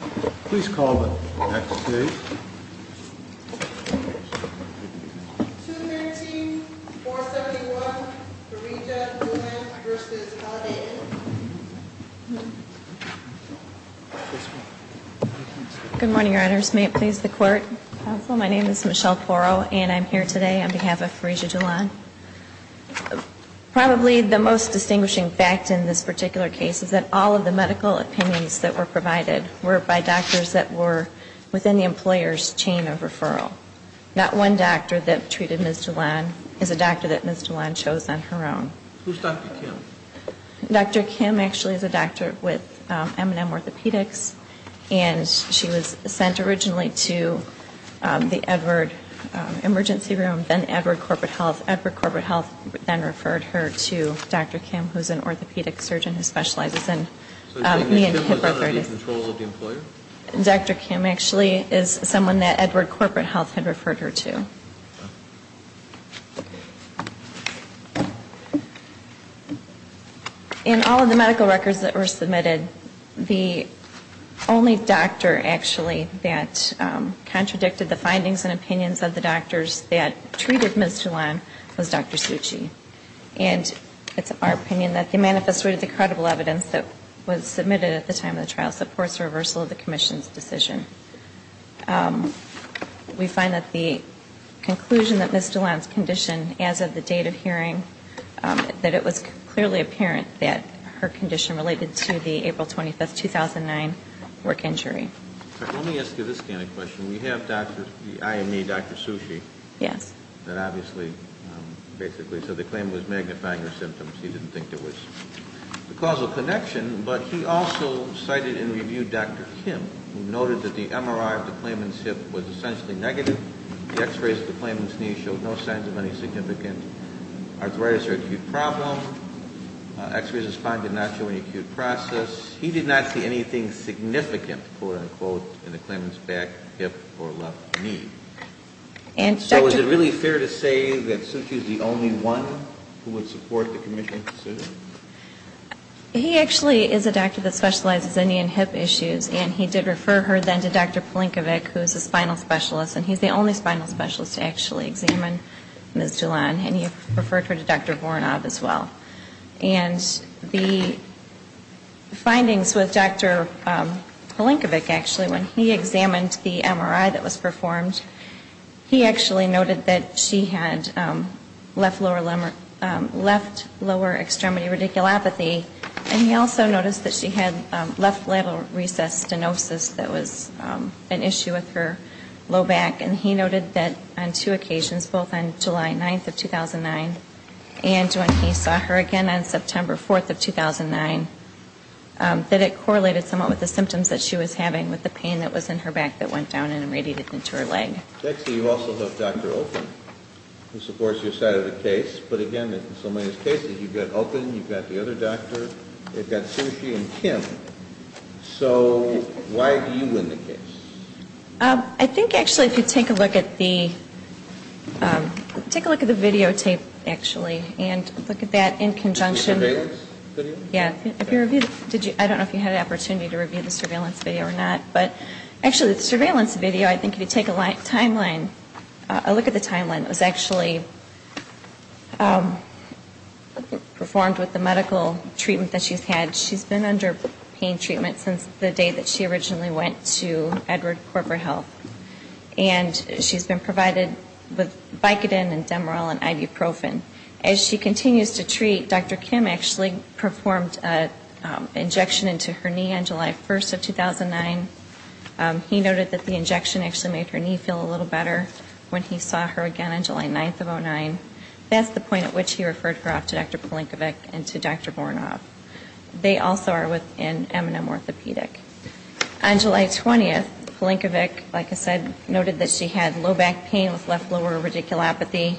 Good morning, Your Honors. May it please the Court. Counsel, my name is Michelle Porro, and I'm here today on behalf of Farija Dulan. Probably the most distinguishing fact in this within the employer's chain of referral. Not one doctor that treated Ms. Dulan is a doctor that Ms. Dulan chose on her own. Who's Dr. Kim? Dr. Kim actually is a doctor with M&M Orthopedics, and she was sent originally to the Edward Emergency Room, then Edward Corporate Health. Edward Corporate Health then referred her to Dr. Kim, who's an orthopedic surgeon who specializes in knee and hip arthritis. Dr. Kim actually is someone that Edward Corporate Health had referred her to. In all of the medical records that were submitted, the only doctor actually that contradicted the findings and opinions of the doctors that treated Ms. Dulan was Dr. Suchi. And it's our opinion that the manifesto of the credible evidence that was submitted at the time of the trial supports the reversal of the Commission's decision. We find that the conclusion that Ms. Dulan's condition as of the date of hearing, that it was clearly apparent that her condition related to the April 25, 2009 work injury. Let me ask you this kind of question. We have the IME Dr. Suchi that obviously basically said the claim was magnifying her symptoms. He didn't think there was a causal connection, but he also cited and reviewed Dr. Kim, who noted that the MRI of the claimant's hip was essentially negative. The x-rays of the claimant's knee showed no signs of any significant arthritis or acute problem. X-rays and spine did not show any acute process. He did not see anything significant, quote, unquote, in the claimant's back, hip, or left knee. And so is it really fair to say that Suchi is the only one who would support the Commission's decision? He actually is a doctor that specializes in knee and hip issues, and he did refer her then to Dr. Palenkovic, who is a spinal specialist, and he's the only spinal specialist to actually examine Ms. Dulan, and he referred her to Dr. Voronov as well. And the findings with Dr. Palenkovic, actually, when he examined the MRI that was performed, he actually noted that she had left lower extremity radiculopathy, and he also noticed that she had left lateral recess stenosis that was an issue with her low back, and he also noted that on two occasions, both on July 9th of 2009 and when he saw her again on September 4th of 2009, that it correlated somewhat with the symptoms that she was having with the pain that was in her back that went down and radiated into her leg. You also have Dr. Oakley, who supports your side of the case, but again, in so many cases, you've got Oakley, you've got the other doctor, you've got Sushi and Kim. So why do you win the case? I think, actually, if you take a look at the videotape, actually, and look at that in conjunction. The surveillance video? Yeah. I don't know if you had an opportunity to review the surveillance video or not, but actually, the surveillance video, I think if you take a look at the timeline, it was actually performed with the medical treatment that she's had. She's been under pain treatment since the day that she originally went to Edward Corporate Health, and she's been provided with Vicodin and Demerol and Ibuprofen. As she continues to treat, Dr. Kim actually performed an injection into her knee on July 1st of 2009. He noted that the injection actually made her knee feel a little better when he saw her again on July 9th of 2009. That's the point at which he referred her off to Dr. Palenkovic and to Dr. Voronov. They also are within M&M Orthopedic. On July 20th, Palenkovic, like I said, noted that she had low back pain with left lower radiculopathy.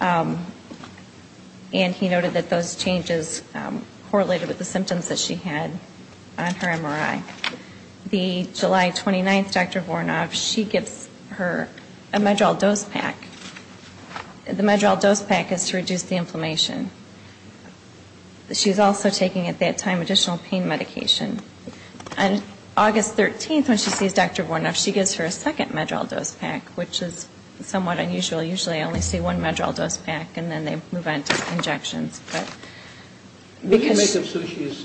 And he noted that those changes correlated with the symptoms that she had on her MRI. The July 29th, Dr. Voronov, she gives her a Medrol dose pack. The Medrol dose pack is to reduce the inflammation. She's also taking at that time additional pain medication. On August 13th, when she sees Dr. Voronov, she gives her a second Medrol dose pack, which is somewhat unusual. Usually I only see one Medrol dose pack, and then they move on to injections. But because of Sushi's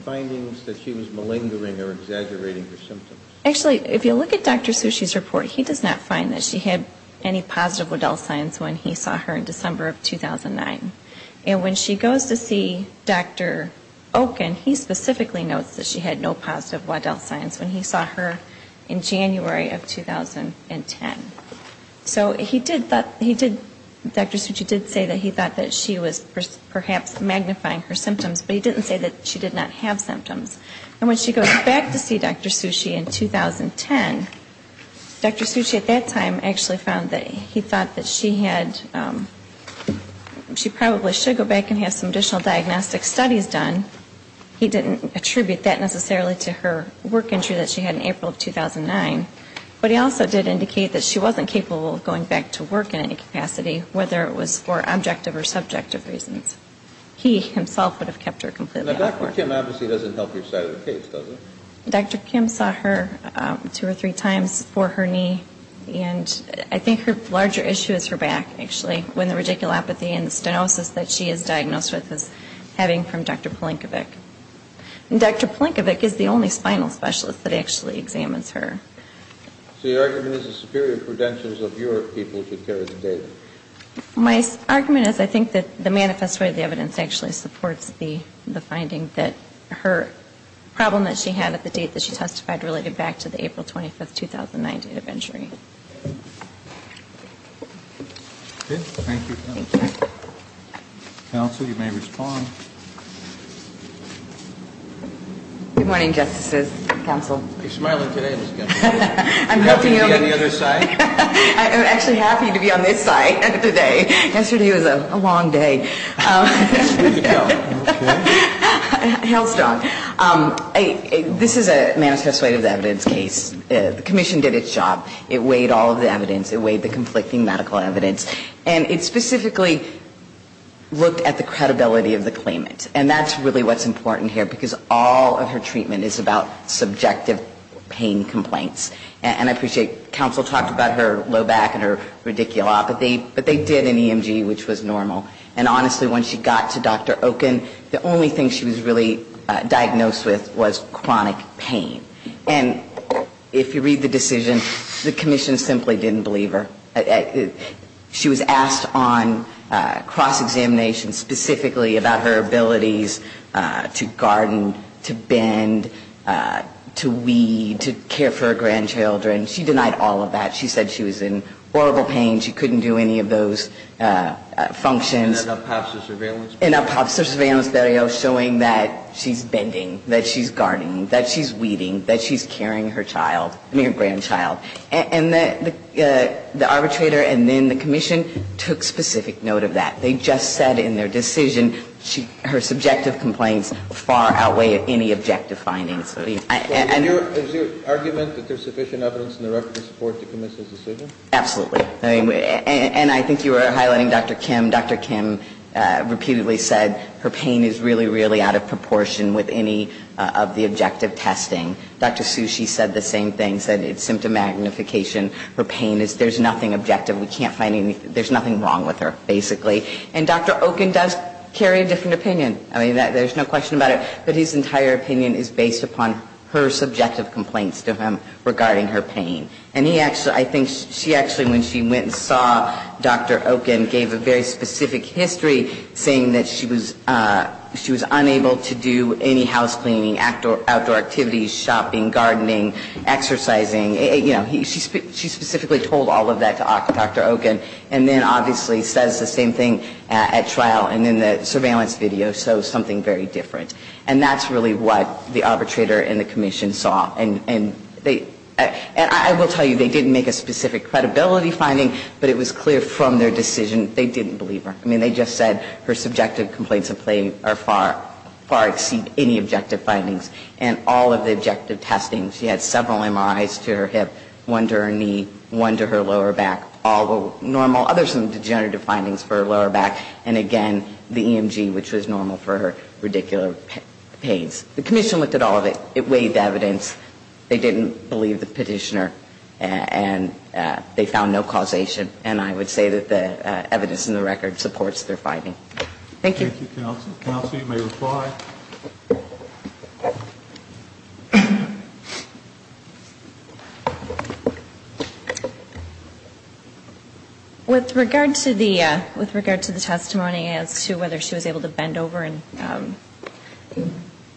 findings that she was malingering or exaggerating her symptoms. Actually, if you look at Dr. Sushi's report, he does not find that she had any positive Waddell signs when he saw her in December of 2009. And when she goes to see Dr. Okun, he specifically notes that she had no positive Waddell signs when he saw her in January of 2010. So he did, Dr. Sushi did say that he thought that she was perhaps magnifying her symptoms, but he didn't say that she did not have symptoms. And when she goes back to see Dr. Sushi in 2010, Dr. Sushi at that time actually found that he thought that she had, she probably should go back and have some additional diagnostic studies done. He didn't attribute that necessarily to her work injury that she had in April of 2009. But he also did indicate that she wasn't capable of going back to work in any capacity, whether it was for objective or subjective reasons. He himself would have kept her completely out of work. Now, Dr. Kim obviously doesn't help your side of the case, does he? Dr. Kim saw her two or three times for her knee, and I think her larger issue is her back, actually, when the radiculopathy and the stenosis that she is experiencing. So your argument is the superior credentials of your people to carry the data? My argument is I think that the manifest way of the evidence actually supports the finding that her problem that she had at the date that she testified related back to the April 25, 2009 date of injury. Thank you. Counsel, you may respond. Good morning, Justices. Counsel. Are you smiling today? I'm actually happy to be on this side today. Yesterday was a long day. This is a manifest way of the evidence case. The commission did its job. It weighed all of the evidence. It weighed the conflicting medical evidence, and it specifically looked at the credibility of the claimant. And that's really what's important here, because all of her treatment is about subjective pain complaints. And I appreciate counsel talked about her low back and her radiculopathy, but they did an EMG, which was normal. And honestly, when she got to Dr. Oken, the only thing she was really diagnosed with was chronic pain. And if you read the decision, the commission simply didn't believe her. She was asked on cross-examination specifically about her abilities to garden, to bend, to weed, to care for her grandchildren. She denied all of that. She said she was in horrible pain. She couldn't do any of those functions. And that up passed the surveillance? And up passed the surveillance showing that she's bending, that she's gardening, that she's weeding, that she's caring her child, I mean her grandchild. And the arbitrator and then the commission took specific note of that. They just said in their decision her subjective complaints far outweigh any objective findings. So is your argument that there's sufficient evidence in the record to support the commission's decision? Absolutely. And I think you were highlighting Dr. Kim. Dr. Kim repeatedly said her pain is really, really out of proportion with any of the objective testing. Dr. Sushi said the same thing, said it's symptom magnification. Her pain is, there's nothing objective. We can't find anything, there's nothing wrong with her, basically. And Dr. Oken does carry a different opinion. I mean, there's no question about it. But his entire opinion is based upon her subjective complaints to him regarding her pain. And I think she actually, when she went and saw Dr. Oken, gave a very specific history saying that she was unable to do any house cleaning, outdoor activities, shopping, gardening, exercising. You know, she specifically told all of that to Dr. Oken. And then obviously says the same thing at trial and in the surveillance video, so something very different. And that's really what the arbitrator and the commission saw. And I will tell you, they didn't make a specific credibility finding, but it was clear from their decision they didn't believe her. I mean, they just said her subjective complaints far exceed any objective findings. And all of the objective testing, she had several MRIs to her hip, one to her knee, one to her lower back, all normal. Other some degenerative findings for her lower back. And again, the EMG, which was normal for her, radicular pains. The commission looked at all of it. It weighed the evidence. They didn't believe the petitioner. And they found no causation. And I would say that the evidence in the record supports their finding. Thank you, counsel. Counsel, you may reply. With regard to the testimony as to whether she was able to bend over and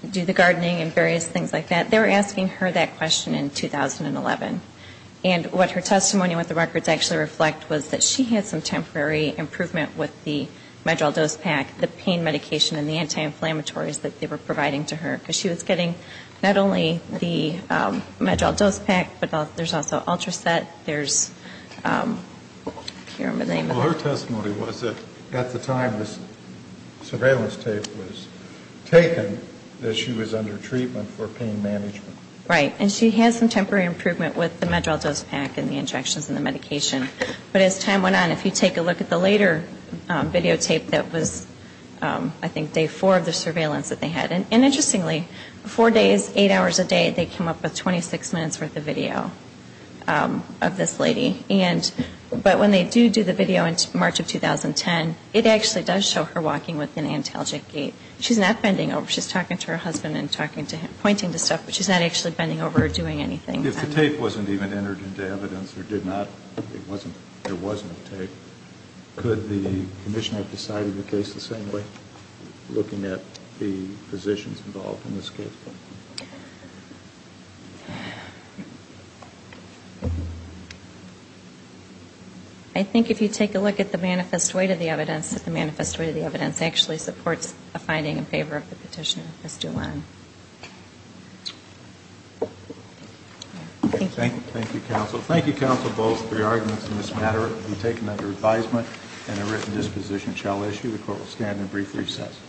do the gardening and various things like that, they were asking her that question in 2011. And what her testimony with the records actually reflect was that she had some temporary improvement with the MedDRAL dose pack, the pain medication and the anti-inflammatories that they were providing to her. Because she was getting not only the MedDRAL dose pack, but there's also Ultraset, there's, I can't remember the name of it. Well, her testimony was that at the time this surveillance tape was taken, that she was under treatment for pain management. Right. And she had some temporary improvement with the MedDRAL dose pack and the injections and the medication. But as time went on, if you take a look at the later videotape that was, I think, day four of the surveillance that they had. And interestingly, four days, eight hours a day, they came up with 26 minutes' worth of video of this lady. But when they do do the video in March of 2010, it actually does show her walking with an antalgic gait. She's not bending over. She's talking to her husband and pointing to stuff, but she's not actually bending over or doing anything. If the tape wasn't even entered into evidence, or did not, it wasn't, there wasn't a tape, could the Commissioner have decided the case the same way, looking at the physicians involved in this case? I think if you take a look at the manifest weight of the evidence, that the manifest weight of the evidence actually supports a finding in favor of the petitioner, Ms. Doolin. Thank you. Thank you, counsel. Thank you, counsel, both for your arguments in this matter. It will be taken under advisement and a written disposition shall issue. The court will stand in brief recess.